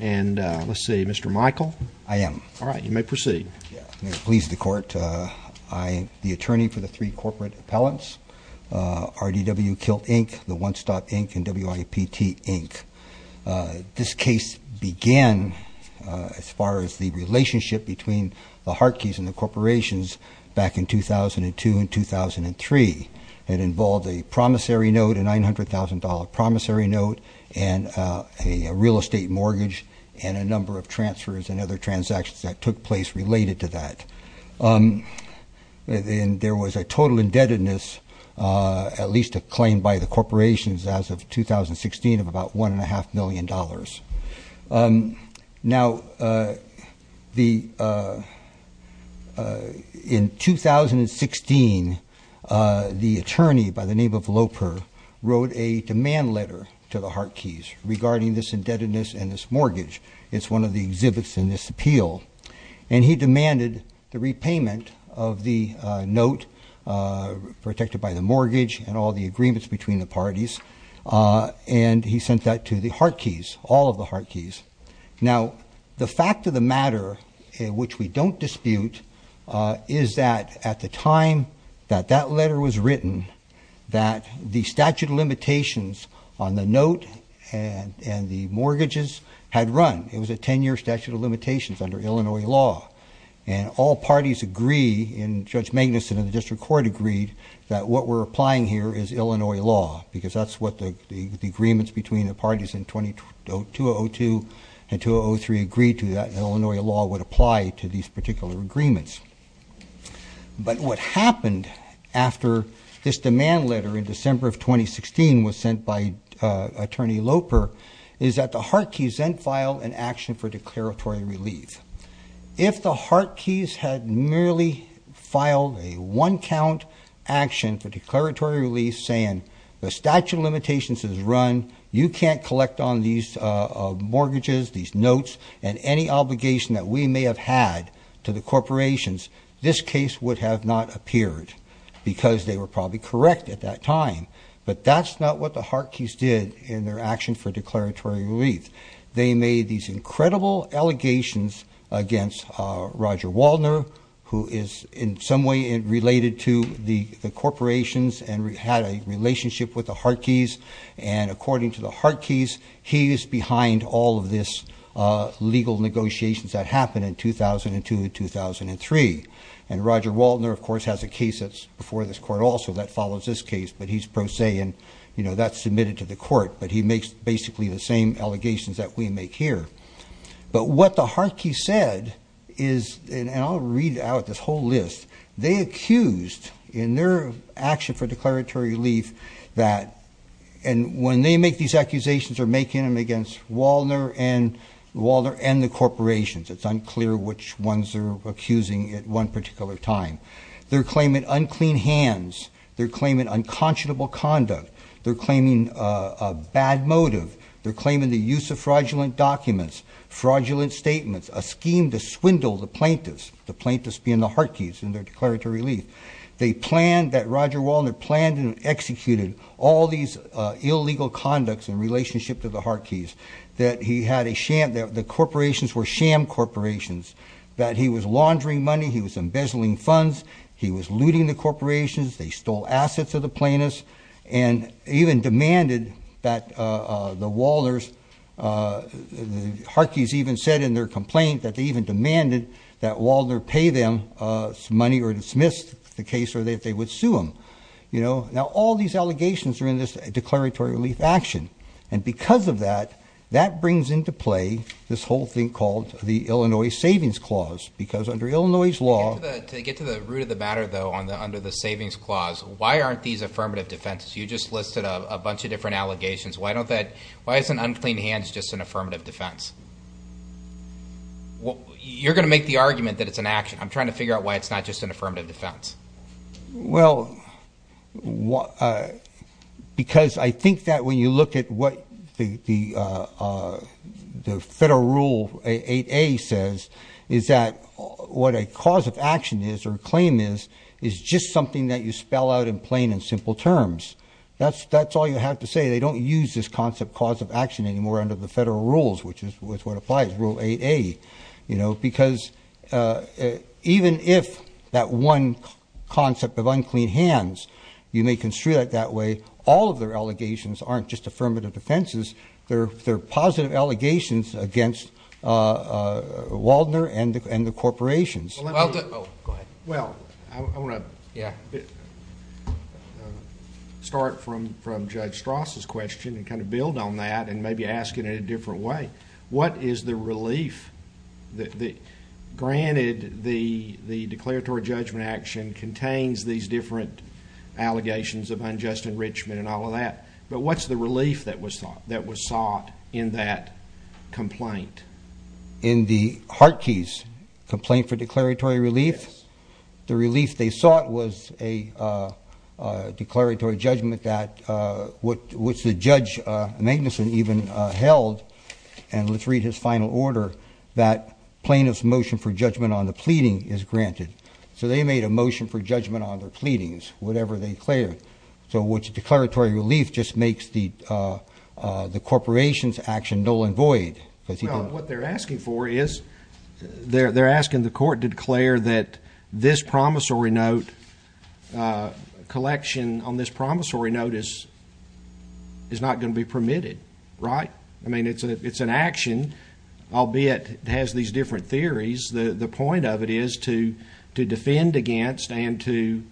And, let's see, Mr. Michael? I am. All right, you may proceed. May it please the Court, I am the attorney for the three corporate appellants, RDW Kilt, Inc., The One Stop, Inc., and WIPT, Inc. This case began as far as the relationship between the Hartkes and the corporations back in 2002 and 2003. It involved a promissory note, a $900,000 promissory note, and a real estate mortgage, and a number of transfers and other transactions that took place related to that. And there was a total indebtedness, at least acclaimed by the corporations as of 2016, of about $1.5 million. Now, in 2016, the attorney, by the name of Loper, wrote a demand letter to the Hartkes regarding this indebtedness and this mortgage. It's one of the exhibits in this appeal. And he demanded the repayment of the note protected by the mortgage and all the agreements between the parties. And he sent that to the Hartkes, all of the Hartkes. Now, the fact of the matter, which we don't dispute, is that at the time that that letter was written, that the statute of limitations on the note and the mortgages had run. It was a ten-year statute of limitations under Illinois law. And all parties agree, and Judge Magnuson and the district court agreed, that what we're applying here is Illinois law, because that's what the agreements between the parties in 2002 and 2003 agreed to, that Illinois law would apply to these particular agreements. But what happened after this demand letter in December of 2016 was sent by Attorney Loper is that the Hartkes then filed an action for declaratory relief. If the Hartkes had merely filed a one count action for declaratory relief saying the statute of limitations is run, you can't collect on these mortgages, these notes, and any obligation that we may have had to the corporations, this case would have not appeared because they were probably correct at that time. But that's not what the Hartkes did in their action for declaratory relief. They made these incredible allegations against Roger Waldner, who is in some way related to the corporations and had a relationship with the Hartkes. And according to the Hartkes, he is behind all of this legal negotiations that happened in 2002, 2003. And Roger Waldner, of course, has a case that's before this court also that follows this case. But he makes basically the same allegations that we make here. But what the Hartkes said is, and I'll read out this whole list. They accused in their action for declaratory relief that, and when they make these accusations, they're making them against Waldner and the corporations. It's unclear which ones they're accusing at one particular time. They're claiming unclean hands. They're claiming unconscionable conduct. They're claiming a bad motive. They're claiming the use of fraudulent documents, fraudulent statements, a scheme to swindle the plaintiffs, the plaintiffs being the Hartkes in their declaratory relief. They planned that Roger Waldner planned and executed all these illegal conducts in relationship to the Hartkes. That the corporations were sham corporations. That he was laundering money, he was embezzling funds. He was looting the corporations. They stole assets of the plaintiffs. And even demanded that the Waldners, the Hartkes even said in their complaint that they even demanded that Waldner pay them some money or dismiss the case or that they would sue him. Now all these allegations are in this declaratory relief action. And because of that, that brings into play this whole thing called the Illinois Savings Clause. Because under Illinois law- You just listed a bunch of different allegations. Why isn't unclean hands just an affirmative defense? You're going to make the argument that it's an action. I'm trying to figure out why it's not just an affirmative defense. Because I think that when you look at what the Federal Rule 8A says, is that what a cause of action is or a claim is, is just something that you spell out in plain and simple terms. That's all you have to say. They don't use this concept cause of action anymore under the Federal Rules, which is what applies, Rule 8A. Because even if that one concept of unclean hands, you may construe it that way, all of their allegations aren't just affirmative defenses. They're positive allegations against Waldner and the corporations. Go ahead. Well, I want to start from Judge Strass' question and kind of build on that and maybe ask it in a different way. What is the relief? Granted, the declaratory judgment action contains these different allegations of unjust enrichment and all of that. But what's the relief that was sought in that complaint? In the Hartke's complaint for declaratory relief? Yes. The relief they sought was a declaratory judgment that, which the judge, Magnuson, even held, and let's read his final order, that plaintiff's motion for judgment on the pleading is granted. So they made a motion for judgment on their pleadings, whatever they declared. So the declaratory relief just makes the corporations' action null and void. Well, what they're asking for is they're asking the court to declare that this promissory note collection on this promissory notice is not going to be permitted. Right? I mean, it's an action, albeit it has these different theories. The point of it is to defend against and to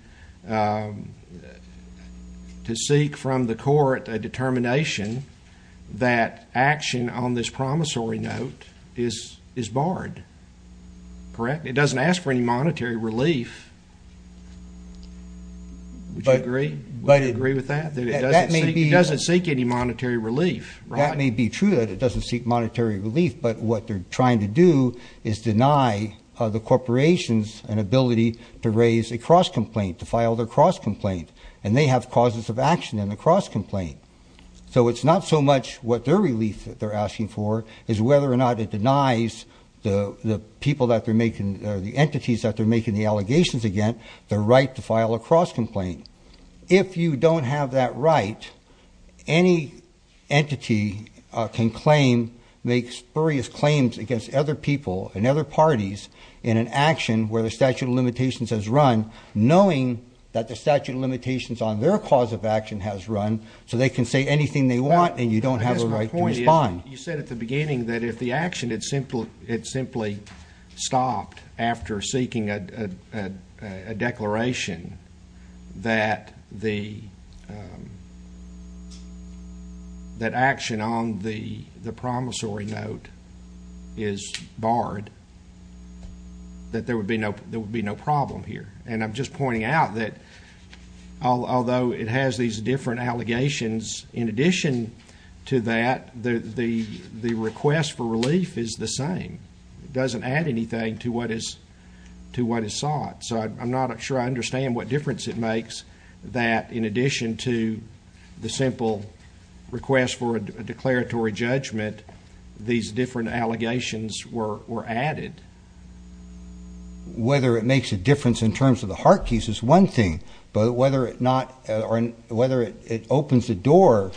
seek from the court a determination that action on this promissory note is barred. Correct? It doesn't ask for any monetary relief. Would you agree with that? It doesn't seek any monetary relief. That may be true that it doesn't seek monetary relief, but what they're trying to do is deny the corporations an ability to raise a cross-complaint, to file their cross-complaint, and they have causes of action in the cross-complaint. So it's not so much what their relief that they're asking for is whether or not it denies the people that they're making, or the entities that they're making the allegations against the right to file a cross-complaint. If you don't have that right, any entity can claim, make spurious claims against other people and other parties in an action where the statute of limitations has run, knowing that the statute of limitations on their cause of action has run, so they can say anything they want and you don't have a right to respond. You said at the beginning that if the action had simply stopped after seeking a declaration that action on the promissory note is barred, that there would be no problem here. And I'm just pointing out that although it has these different allegations, in addition to that, the request for relief is the same. It doesn't add anything to what is sought. So I'm not sure I understand what difference it makes that in addition to the simple request for a declaratory judgment, these different allegations were added. Whether it makes a difference in terms of the heart case is one thing, but whether it opens the door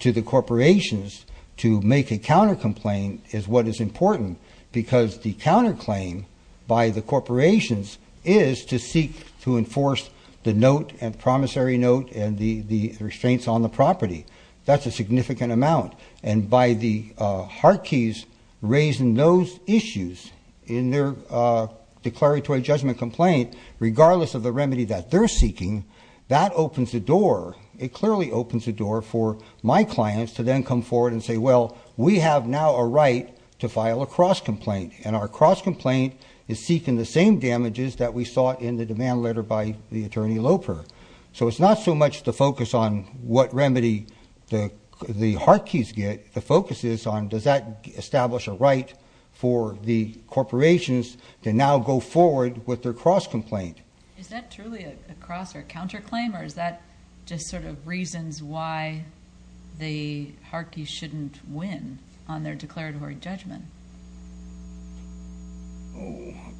to the corporations to make a counter complaint is what is important, because the counterclaim by the corporations is to seek to enforce the note and promissory note and the restraints on the property. That's a significant amount. And by the heart keys raising those issues in their declaratory judgment complaint, regardless of the remedy that they're seeking, that opens the door. It clearly opens the door for my clients to then come forward and say, well, we have now a right to file a cross complaint. And our cross complaint is seeking the same damages that we sought in the demand letter by the attorney Loper. So it's not so much the focus on what remedy the heart keys get. The focus is on does that establish a right for the corporations to now go forward with their cross complaint? Is that truly a cross or counterclaim? Or is that just sort of reasons why the heart keys shouldn't win on their declaratory judgment?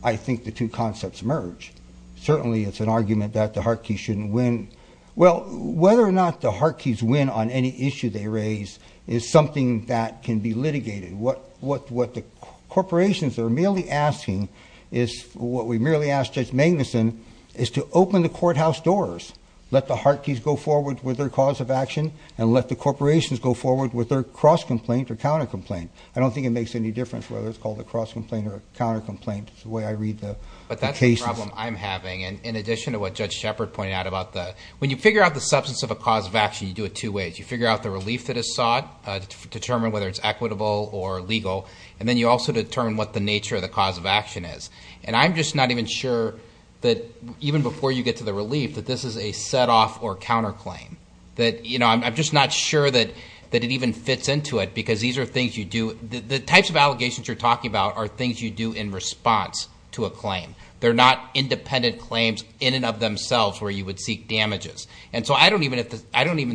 I think the two concepts merge. Certainly, it's an argument that the heart key shouldn't win. Well, whether or not the heart keys win on any issue they raise is something that can be litigated. What the corporations are merely asking is, what we merely asked Judge Magnuson, is to open the courthouse doors. Let the heart keys go forward with their cause of action, and let the corporations go forward with their cross complaint or counter complaint. I don't think it makes any difference whether it's called a cross complaint or a counter complaint. It's the way I read the cases. But that's the problem I'm having. In addition to what Judge Shepard pointed out about the, when you figure out the substance of a cause of action, you do it two ways. You figure out the relief that is sought to determine whether it's equitable or legal. And then you also determine what the nature of the cause of action is. And I'm just not even sure that, even before you get to the relief, that this is a set off or counterclaim. I'm just not sure that it even fits into it, because these are things you do. The types of allegations you're talking about are things you do in response to a claim. They're not independent claims in and of themselves where you would seek damages. And so I don't even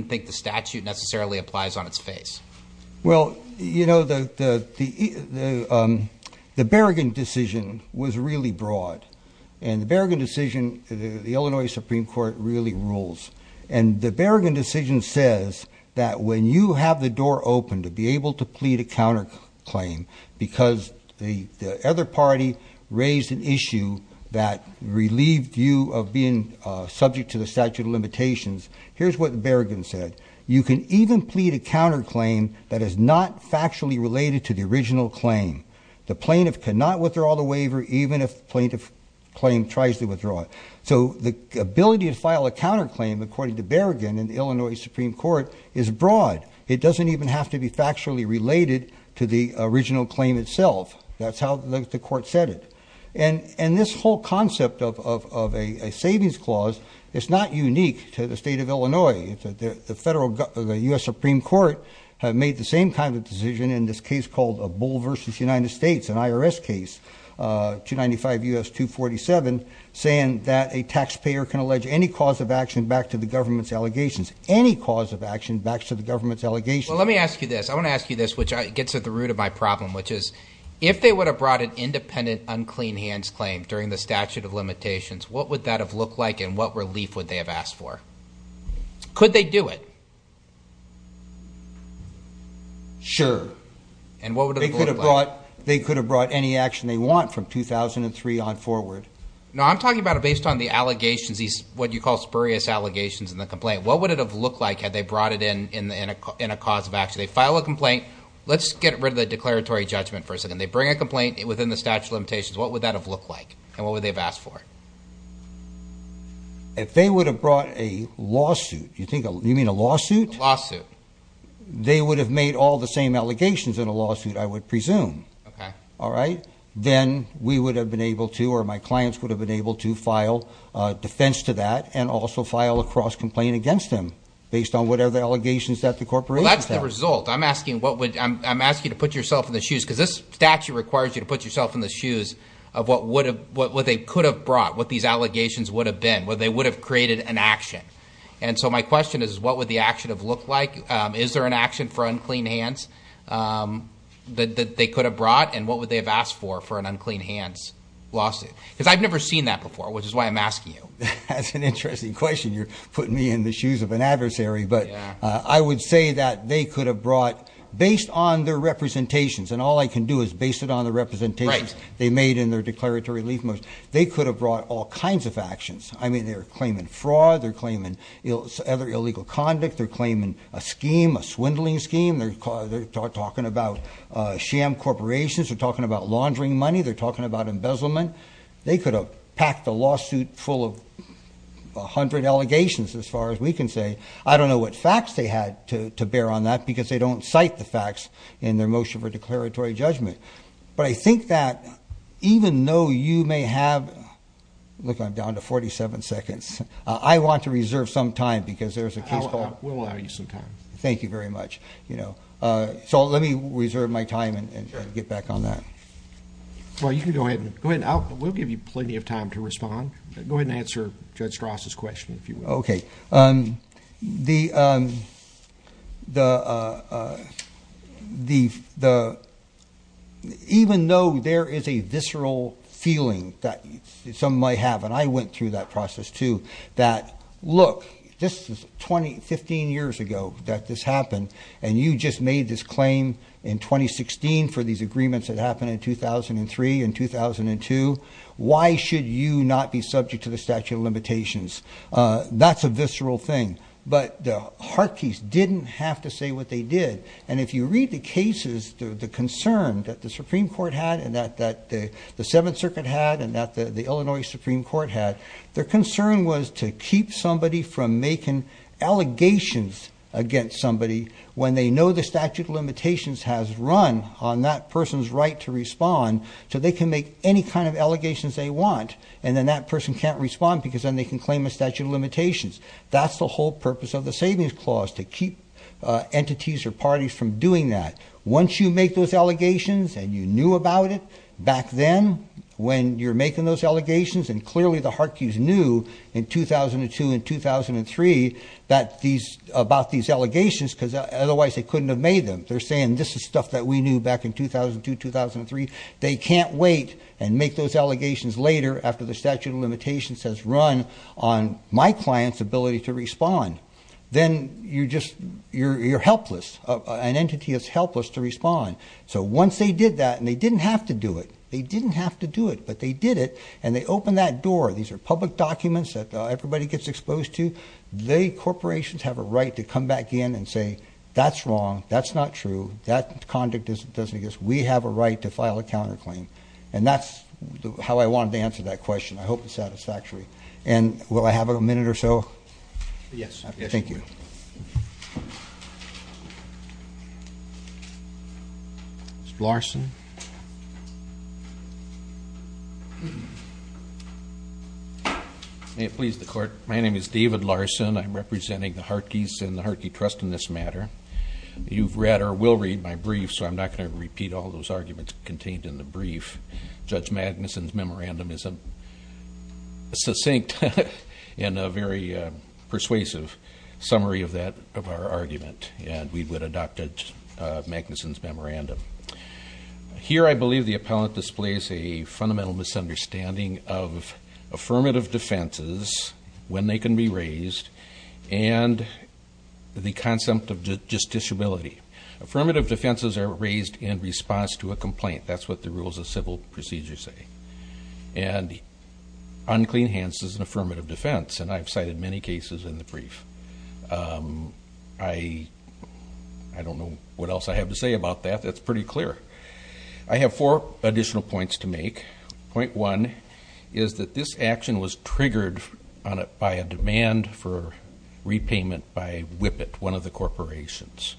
think the statute necessarily applies on its face. Well, you know, the Berrigan decision was really broad. And the Berrigan decision, the Illinois Supreme Court really rules. And the Berrigan decision says that when you have the door open to be able to plead a counterclaim, because the other party raised an issue that relieved you of being subject to the statute of limitations. Here's what the Berrigan said. You can even plead a counterclaim that is not factually related to the original claim. The plaintiff cannot withdraw the waiver, even if the plaintiff claim tries to withdraw it. So the ability to file a counterclaim, according to Berrigan in the Illinois Supreme Court, is broad. It doesn't even have to be factually related to the original claim itself. That's how the court said it. And this whole concept of a savings clause is not unique to the state of Illinois. The U.S. Supreme Court made the same kind of decision in this case called Bull v. United States, an IRS case, 295 U.S. 247, saying that a taxpayer can allege any cause of action back to the government's allegations. Any cause of action back to the government's allegations. Well, let me ask you this. I want to ask you this, which gets at the root of my problem, which is if they would have brought an independent, unclean hands claim during the statute of limitations, what would that have looked like and what relief would they have asked for? Could they do it? Sure. And what would it have looked like? They could have brought any action they want from 2003 on forward. No, I'm talking about it based on the allegations, what you call spurious allegations in the complaint. What would it have looked like had they brought it in in a cause of action? They file a complaint. Let's get rid of the declaratory judgment for a second. They bring a complaint within the statute of limitations. What would that have looked like and what would they have asked for? If they would have brought a lawsuit, you mean a lawsuit? A lawsuit. They would have made all the same allegations in a lawsuit, I would presume. Okay. All right? Then we would have been able to, or my clients would have been able to, file defense to that and also file a cross-complaint against them based on whatever the allegations that the corporations have. Well, that's the result. I'm asking you to put yourself in the shoes because this statute requires you to put yourself in the shoes of what they could have brought, what these allegations would have been, where they would have created an action. And so my question is, what would the action have looked like? Is there an action for unclean hands that they could have brought? And what would they have asked for for an unclean hands lawsuit? Because I've never seen that before, which is why I'm asking you. That's an interesting question. You're putting me in the shoes of an adversary. But I would say that they could have brought, based on their representations, and all I can do is base it on the representations they made in their declaratory relief motion, they could have brought all kinds of actions. I mean, they're claiming fraud. They're claiming other illegal conduct. They're claiming a scheme, a swindling scheme. They're talking about sham corporations. They're talking about laundering money. They're talking about embezzlement. They could have packed a lawsuit full of 100 allegations, as far as we can say. I don't know what facts they had to bear on that because they don't cite the facts in their motion for declaratory judgment. But I think that even though you may have, look, I'm down to 47 seconds. I want to reserve some time because there's a case called. We'll allow you some time. Thank you very much. So let me reserve my time and get back on that. Well, you can go ahead. We'll give you plenty of time to respond. Go ahead and answer Judge Strass' question, if you will. Okay. Even though there is a visceral feeling that some might have, and I went through that process, too, that, look, this is 15 years ago that this happened, and you just made this claim in 2016 for these agreements that happened in 2003 and 2002. Why should you not be subject to the statute of limitations? That's a visceral thing. But the Harkeys didn't have to say what they did. And if you read the cases, the concern that the Supreme Court had and that the Seventh Circuit had and that the Illinois Supreme Court had, their concern was to keep somebody from making allegations against somebody when they know the statute of limitations has run on that person's right to respond, so they can make any kind of allegations they want, and then that person can't respond because then they can claim a statute of limitations. That's the whole purpose of the savings clause, to keep entities or parties from doing that. Once you make those allegations and you knew about it back then when you're making those allegations, and clearly the Harkeys knew in 2002 and 2003 about these allegations, because otherwise they couldn't have made them. They're saying this is stuff that we knew back in 2002, 2003. They can't wait and make those allegations later after the statute of limitations has run on my client's ability to respond. Then you're helpless. An entity is helpless to respond. So once they did that, and they didn't have to do it. They didn't have to do it, but they did it, and they opened that door. These are public documents that everybody gets exposed to. The corporations have a right to come back in and say, that's wrong. That's not true. That conduct doesn't exist. We have a right to file a counterclaim. And that's how I wanted to answer that question. I hope it's satisfactory. And will I have a minute or so? Yes. Thank you. Mr. Larson. May it please the court. My name is David Larson. I'm representing the Harkeys and the Harkey Trust in this matter. You've read or will read my brief, so I'm not going to repeat all those arguments contained in the brief. Judge Magnuson's memorandum is succinct and a very persuasive summary of that, of our argument. And we would adopt it, Magnuson's memorandum. Here I believe the appellant displays a fundamental misunderstanding of affirmative defenses, when they can be raised. And the concept of justiciability. Affirmative defenses are raised in response to a complaint. That's what the rules of civil procedure say. And unclean hands is an affirmative defense. And I've cited many cases in the brief. I don't know what else I have to say about that. That's pretty clear. I have four additional points to make. Point one is that this action was triggered by a demand for repayment by Whippet, one of the corporations.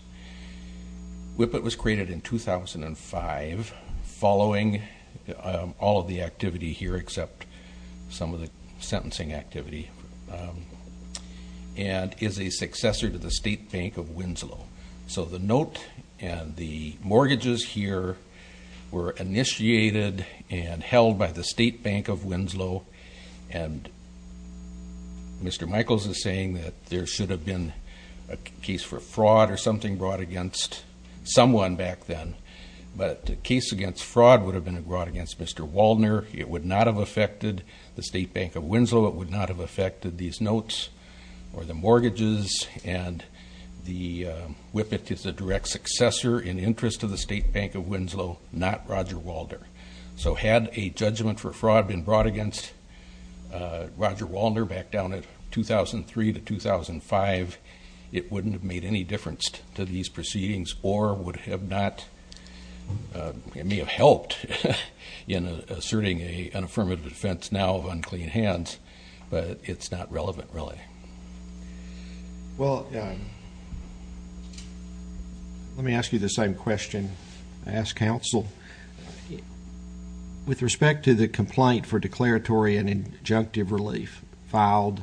Whippet was created in 2005, following all of the activity here except some of the sentencing activity, and is a successor to the State Bank of Winslow. So the note and the mortgages here were initiated and held by the State Bank of Winslow. And Mr. Michaels is saying that there should have been a case for fraud or something brought against someone back then. But a case against fraud would have been brought against Mr. Waldner. It would not have affected the State Bank of Winslow. It would not have affected these notes or the mortgages. And Whippet is a direct successor in interest of the State Bank of Winslow, not Roger Waldner. So had a judgment for fraud been brought against Roger Waldner back down in 2003 to 2005, it wouldn't have made any difference to these proceedings, or it may have helped in asserting an affirmative defense now of unclean hands. But it's not relevant really. Well, let me ask you the same question I ask counsel. With respect to the complaint for declaratory and injunctive relief filed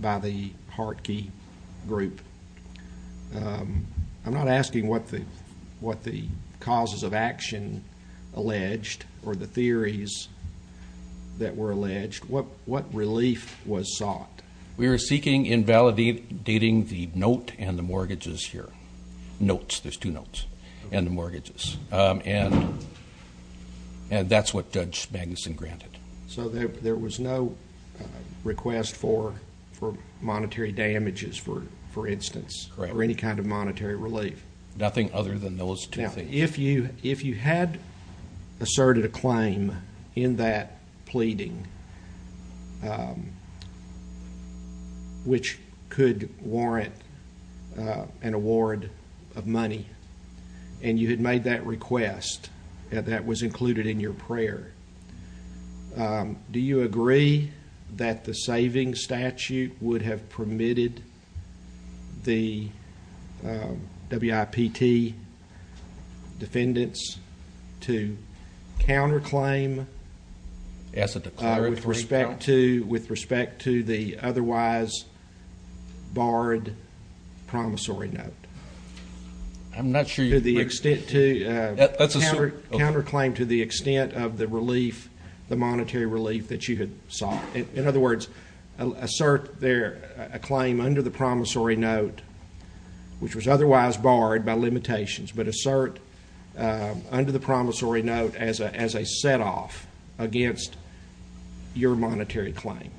by the Hartke Group, I'm not asking what the causes of action alleged or the theories that were alleged. What relief was sought? We were seeking invalidating the note and the mortgages here. Notes, there's two notes, and the mortgages. And that's what Judge Magnuson granted. So there was no request for monetary damages, for instance, or any kind of monetary relief? Nothing other than those two things. Now, if you had asserted a claim in that pleading, which could warrant an award of money, and you had made that request, and that was included in your prayer, do you agree that the savings statute would have permitted the WIPT defendants to counterclaim with respect to the otherwise barred promissory note? I'm not sure. Counterclaim to the extent of the relief, the monetary relief that you had sought. In other words, assert a claim under the promissory note, which was otherwise barred by limitations, but assert under the promissory note as a set-off against your monetary claim.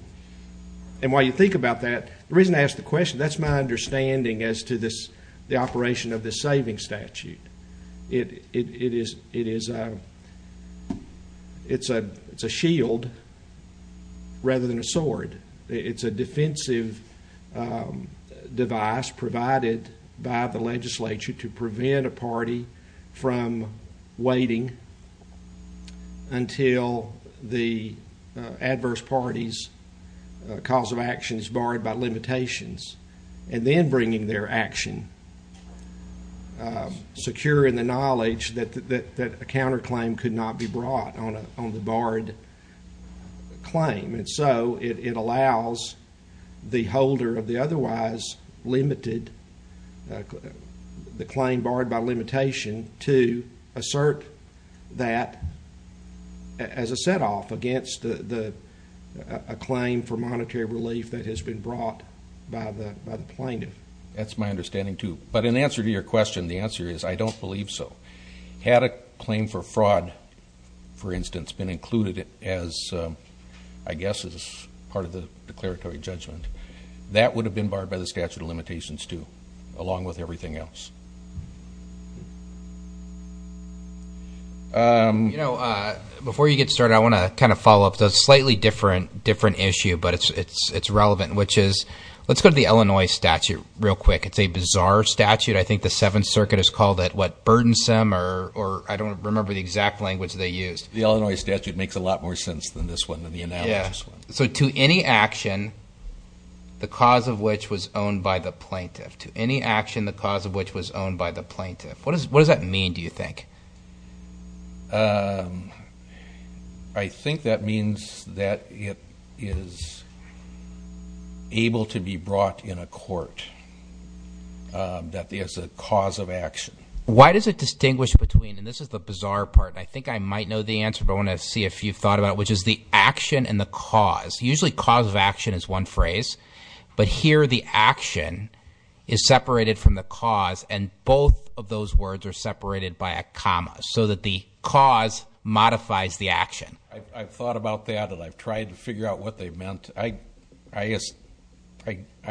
And while you think about that, the reason I ask the question, that's my understanding as to the operation of the savings statute. It's a shield rather than a sword. It's a defensive device provided by the legislature to prevent a party from waiting until the adverse party's cause of action is barred by limitations, and then bringing their action, secure in the knowledge that a counterclaim could not be brought on the barred claim. And so it allows the holder of the otherwise limited, the claim barred by limitation, to assert that as a set-off against a claim for monetary relief that has been brought by the plaintiff. That's my understanding, too. But in answer to your question, the answer is I don't believe so. Had a claim for fraud, for instance, been included as, I guess, as part of the declaratory judgment, that would have been barred by the statute of limitations, too, along with everything else. You know, before you get started, I want to kind of follow up. It's a slightly different issue, but it's relevant, which is let's go to the Illinois statute real quick. It's a bizarre statute. I think the Seventh Circuit has called it, what, burdensome, or I don't remember the exact language they used. The Illinois statute makes a lot more sense than this one, than the analogous one. Yeah. So to any action, the cause of which was owned by the plaintiff. To any action, the cause of which was owned by the plaintiff. What does that mean, do you think? I think that means that it is able to be brought in a court that is a cause of action. Why does it distinguish between, and this is the bizarre part, and I think I might know the answer, but I want to see if you've thought about it, which is the action and the cause. Usually cause of action is one phrase, but here the action is separated from the cause, and both of those words are separated by a comma, so that the cause modifies the action. I've thought about that, and I've tried to figure out what they meant. I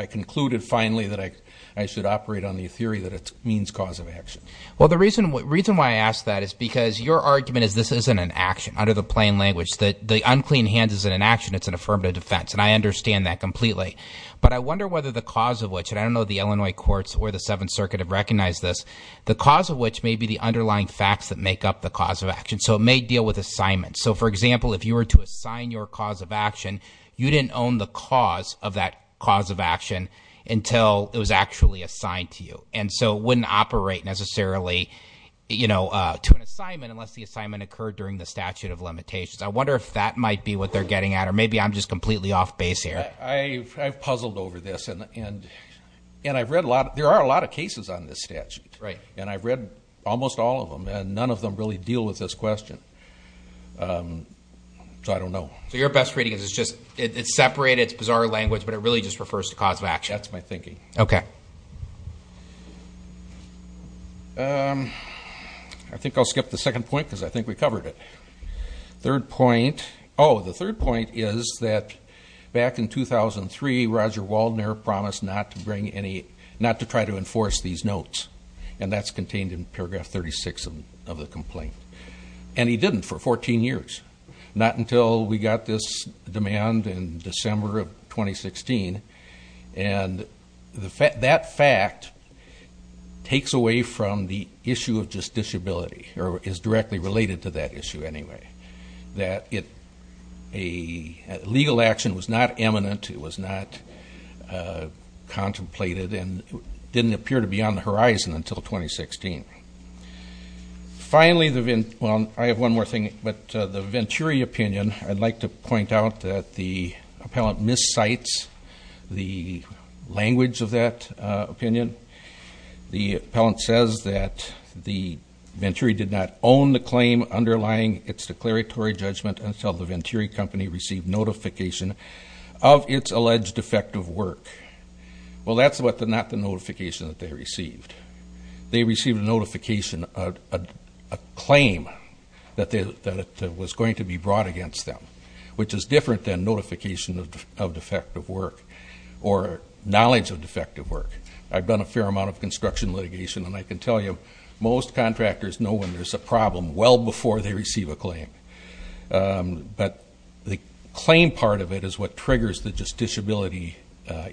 concluded finally that I should operate on the theory that it means cause of action. Well, the reason why I ask that is because your argument is this isn't an action. Under the plain language, the unclean hand isn't an action. It's an affirmative defense, and I understand that completely. But I wonder whether the cause of which, and I don't know the Illinois courts or the Seventh Circuit have recognized this, the cause of which may be the underlying facts that make up the cause of action, so it may deal with assignments. So, for example, if you were to assign your cause of action, you didn't own the cause of that cause of action until it was actually assigned to you, and so it wouldn't operate necessarily to an assignment unless the assignment occurred during the statute of limitations. I wonder if that might be what they're getting at, or maybe I'm just completely off base here. I've puzzled over this, and I've read a lot. There are a lot of cases on this statute, and I've read almost all of them, and none of them really deal with this question, so I don't know. So your best reading is it's separated, it's bizarre language, but it really just refers to cause of action. That's my thinking. Okay. I think I'll skip the second point because I think we covered it. Third point, oh, the third point is that back in 2003, Roger Waldner promised not to try to enforce these notes, and that's contained in paragraph 36 of the complaint, and he didn't for 14 years, not until we got this demand in December of 2016, and that fact takes away from the issue of justiciability, or is directly related to that issue anyway, that a legal action was not eminent, it was not contemplated, and didn't appear to be on the horizon until 2016. Finally, well, I have one more thing, but the Venturi opinion, I'd like to point out that the appellant miscites the language of that opinion. The appellant says that the Venturi did not own the claim underlying its declaratory judgment until the Venturi company received notification of its alleged defective work. Well, that's not the notification that they received. They received a notification of a claim that was going to be brought against them, which is different than notification of defective work or knowledge of defective work. I've done a fair amount of construction litigation, and I can tell you, most contractors know when there's a problem well before they receive a claim, but the claim part of it is what triggers the justiciability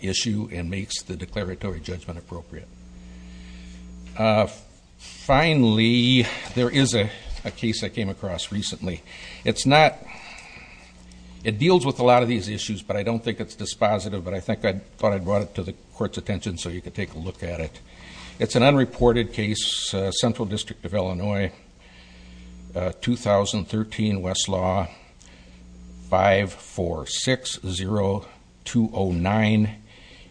issue and makes the declaratory judgment appropriate. Finally, there is a case I came across recently. It's not, it deals with a lot of these issues, but I don't think it's dispositive, but I thought I'd brought it to the Court's attention so you could take a look at it. It's an unreported case, Central District of Illinois, 2013 Westlaw 5460209,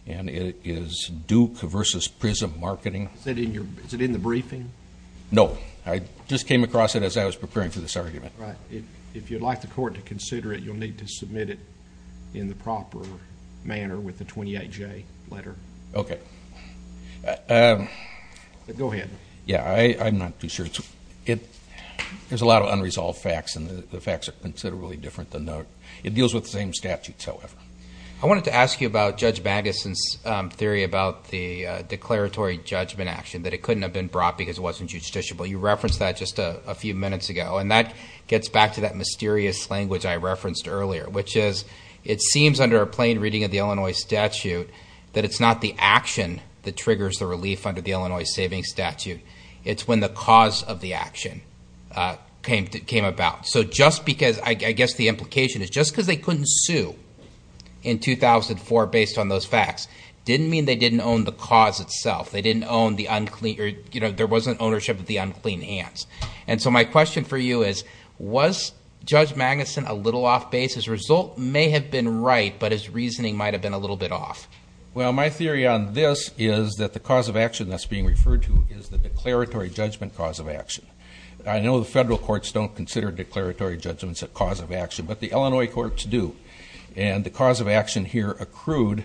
and it is Duke v. Prism Marketing. Is it in the briefing? No, I just came across it as I was preparing for this argument. If you'd like the Court to consider it, you'll need to submit it in the proper manner with the 28J letter. Okay. Go ahead. Yeah, I'm not too sure. There's a lot of unresolved facts, and the facts are considerably different than those. It deals with the same statutes, however. I wanted to ask you about Judge Magnuson's theory about the declaratory judgment action, that it couldn't have been brought because it wasn't justiciable. You referenced that just a few minutes ago, and that gets back to that mysterious language I referenced earlier, which is it seems under a plain reading of the Illinois statute that it's not the action that triggers the relief under the Illinois savings statute. It's when the cause of the action came about. So just because I guess the implication is just because they couldn't sue in 2004 based on those facts didn't mean they didn't own the cause itself. There wasn't ownership of the unclean hands. And so my question for you is, was Judge Magnuson a little off base? His result may have been right, but his reasoning might have been a little bit off. Well, my theory on this is that the cause of action that's being referred to is the declaratory judgment cause of action. I know the federal courts don't consider declaratory judgments a cause of action, but the Illinois courts do. And the cause of action here accrued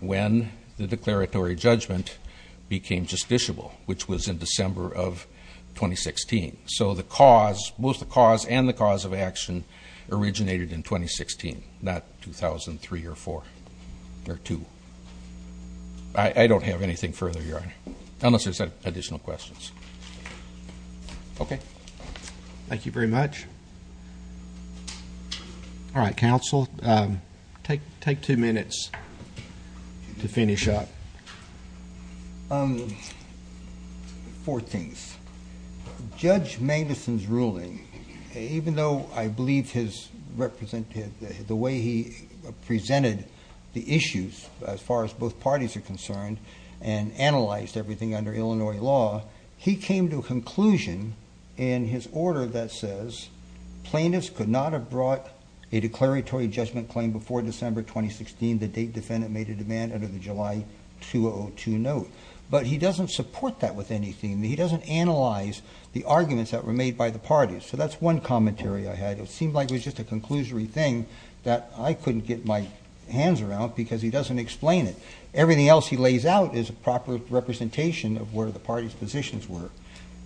when the declaratory judgment became justiciable, which was in December of 2016. So both the cause and the cause of action originated in 2016, not 2003 or 2. I don't have anything further, Your Honor, unless there's additional questions. Okay. Thank you very much. All right. Counsel, take two minutes to finish up. Four things. Judge Magnuson's ruling, even though I believe his way he presented the issues as far as both parties are concerned and analyzed everything under Illinois law, he came to a conclusion in his order that says plaintiffs could not have brought a declaratory judgment claim before December 2016. But he doesn't support that with anything. He doesn't analyze the arguments that were made by the parties. So that's one commentary I had. It seemed like it was just a conclusory thing that I couldn't get my hands around because he doesn't explain it. Everything else he lays out is a proper representation of where the party's positions were.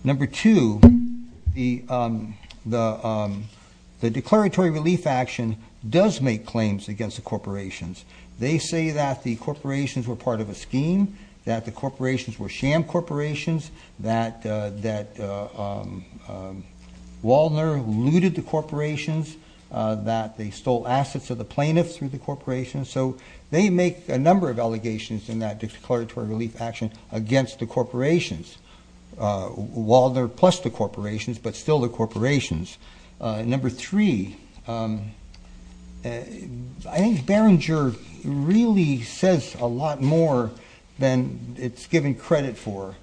Number two, the declaratory relief action does make claims against the corporations. They say that the corporations were part of a scheme, that the corporations were sham corporations, that Waldner looted the corporations, that they stole assets of the plaintiffs through the corporations. So they make a number of allegations in that declaratory relief action against the corporations. Waldner plus the corporations, but still the corporations. Number three, I think Behringer really says a lot more than it's given credit for.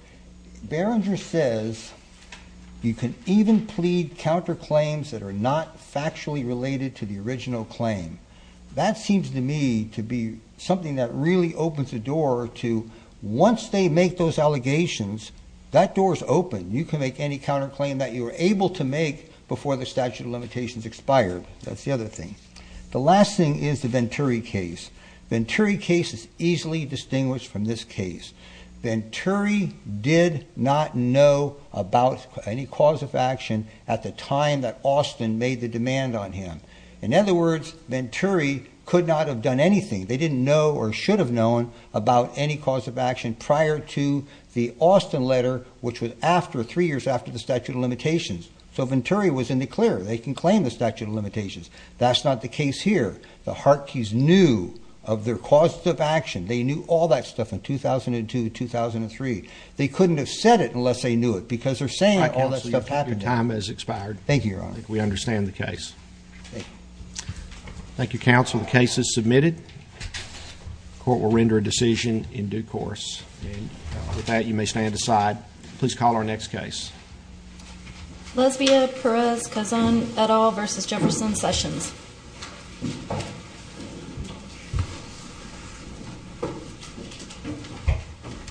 Behringer says you can even plead counterclaims that are not factually related to the original claim. That seems to me to be something that really opens the door to once they make those allegations, that door is open. You can make any counterclaim that you were able to make before the statute of limitations expired. That's the other thing. The last thing is the Venturi case. Venturi case is easily distinguished from this case. Venturi did not know about any cause of action at the time that Austin made the demand on him. In other words, Venturi could not have done anything. They didn't know or should have known about any cause of action prior to the Austin letter, which was three years after the statute of limitations. So Venturi was in the clear. They can claim the statute of limitations. That's not the case here. The Hartke's knew of their cause of action. They knew all that stuff in 2002, 2003. They couldn't have said it unless they knew it because they're saying all that stuff happened. Your time has expired. Thank you, Your Honor. We understand the case. Thank you, counsel. The case is submitted. The court will render a decision in due course. With that, you may stand aside. Please call our next case. Lesbia Perez-Cazan, et al. v. Jefferson Sessions.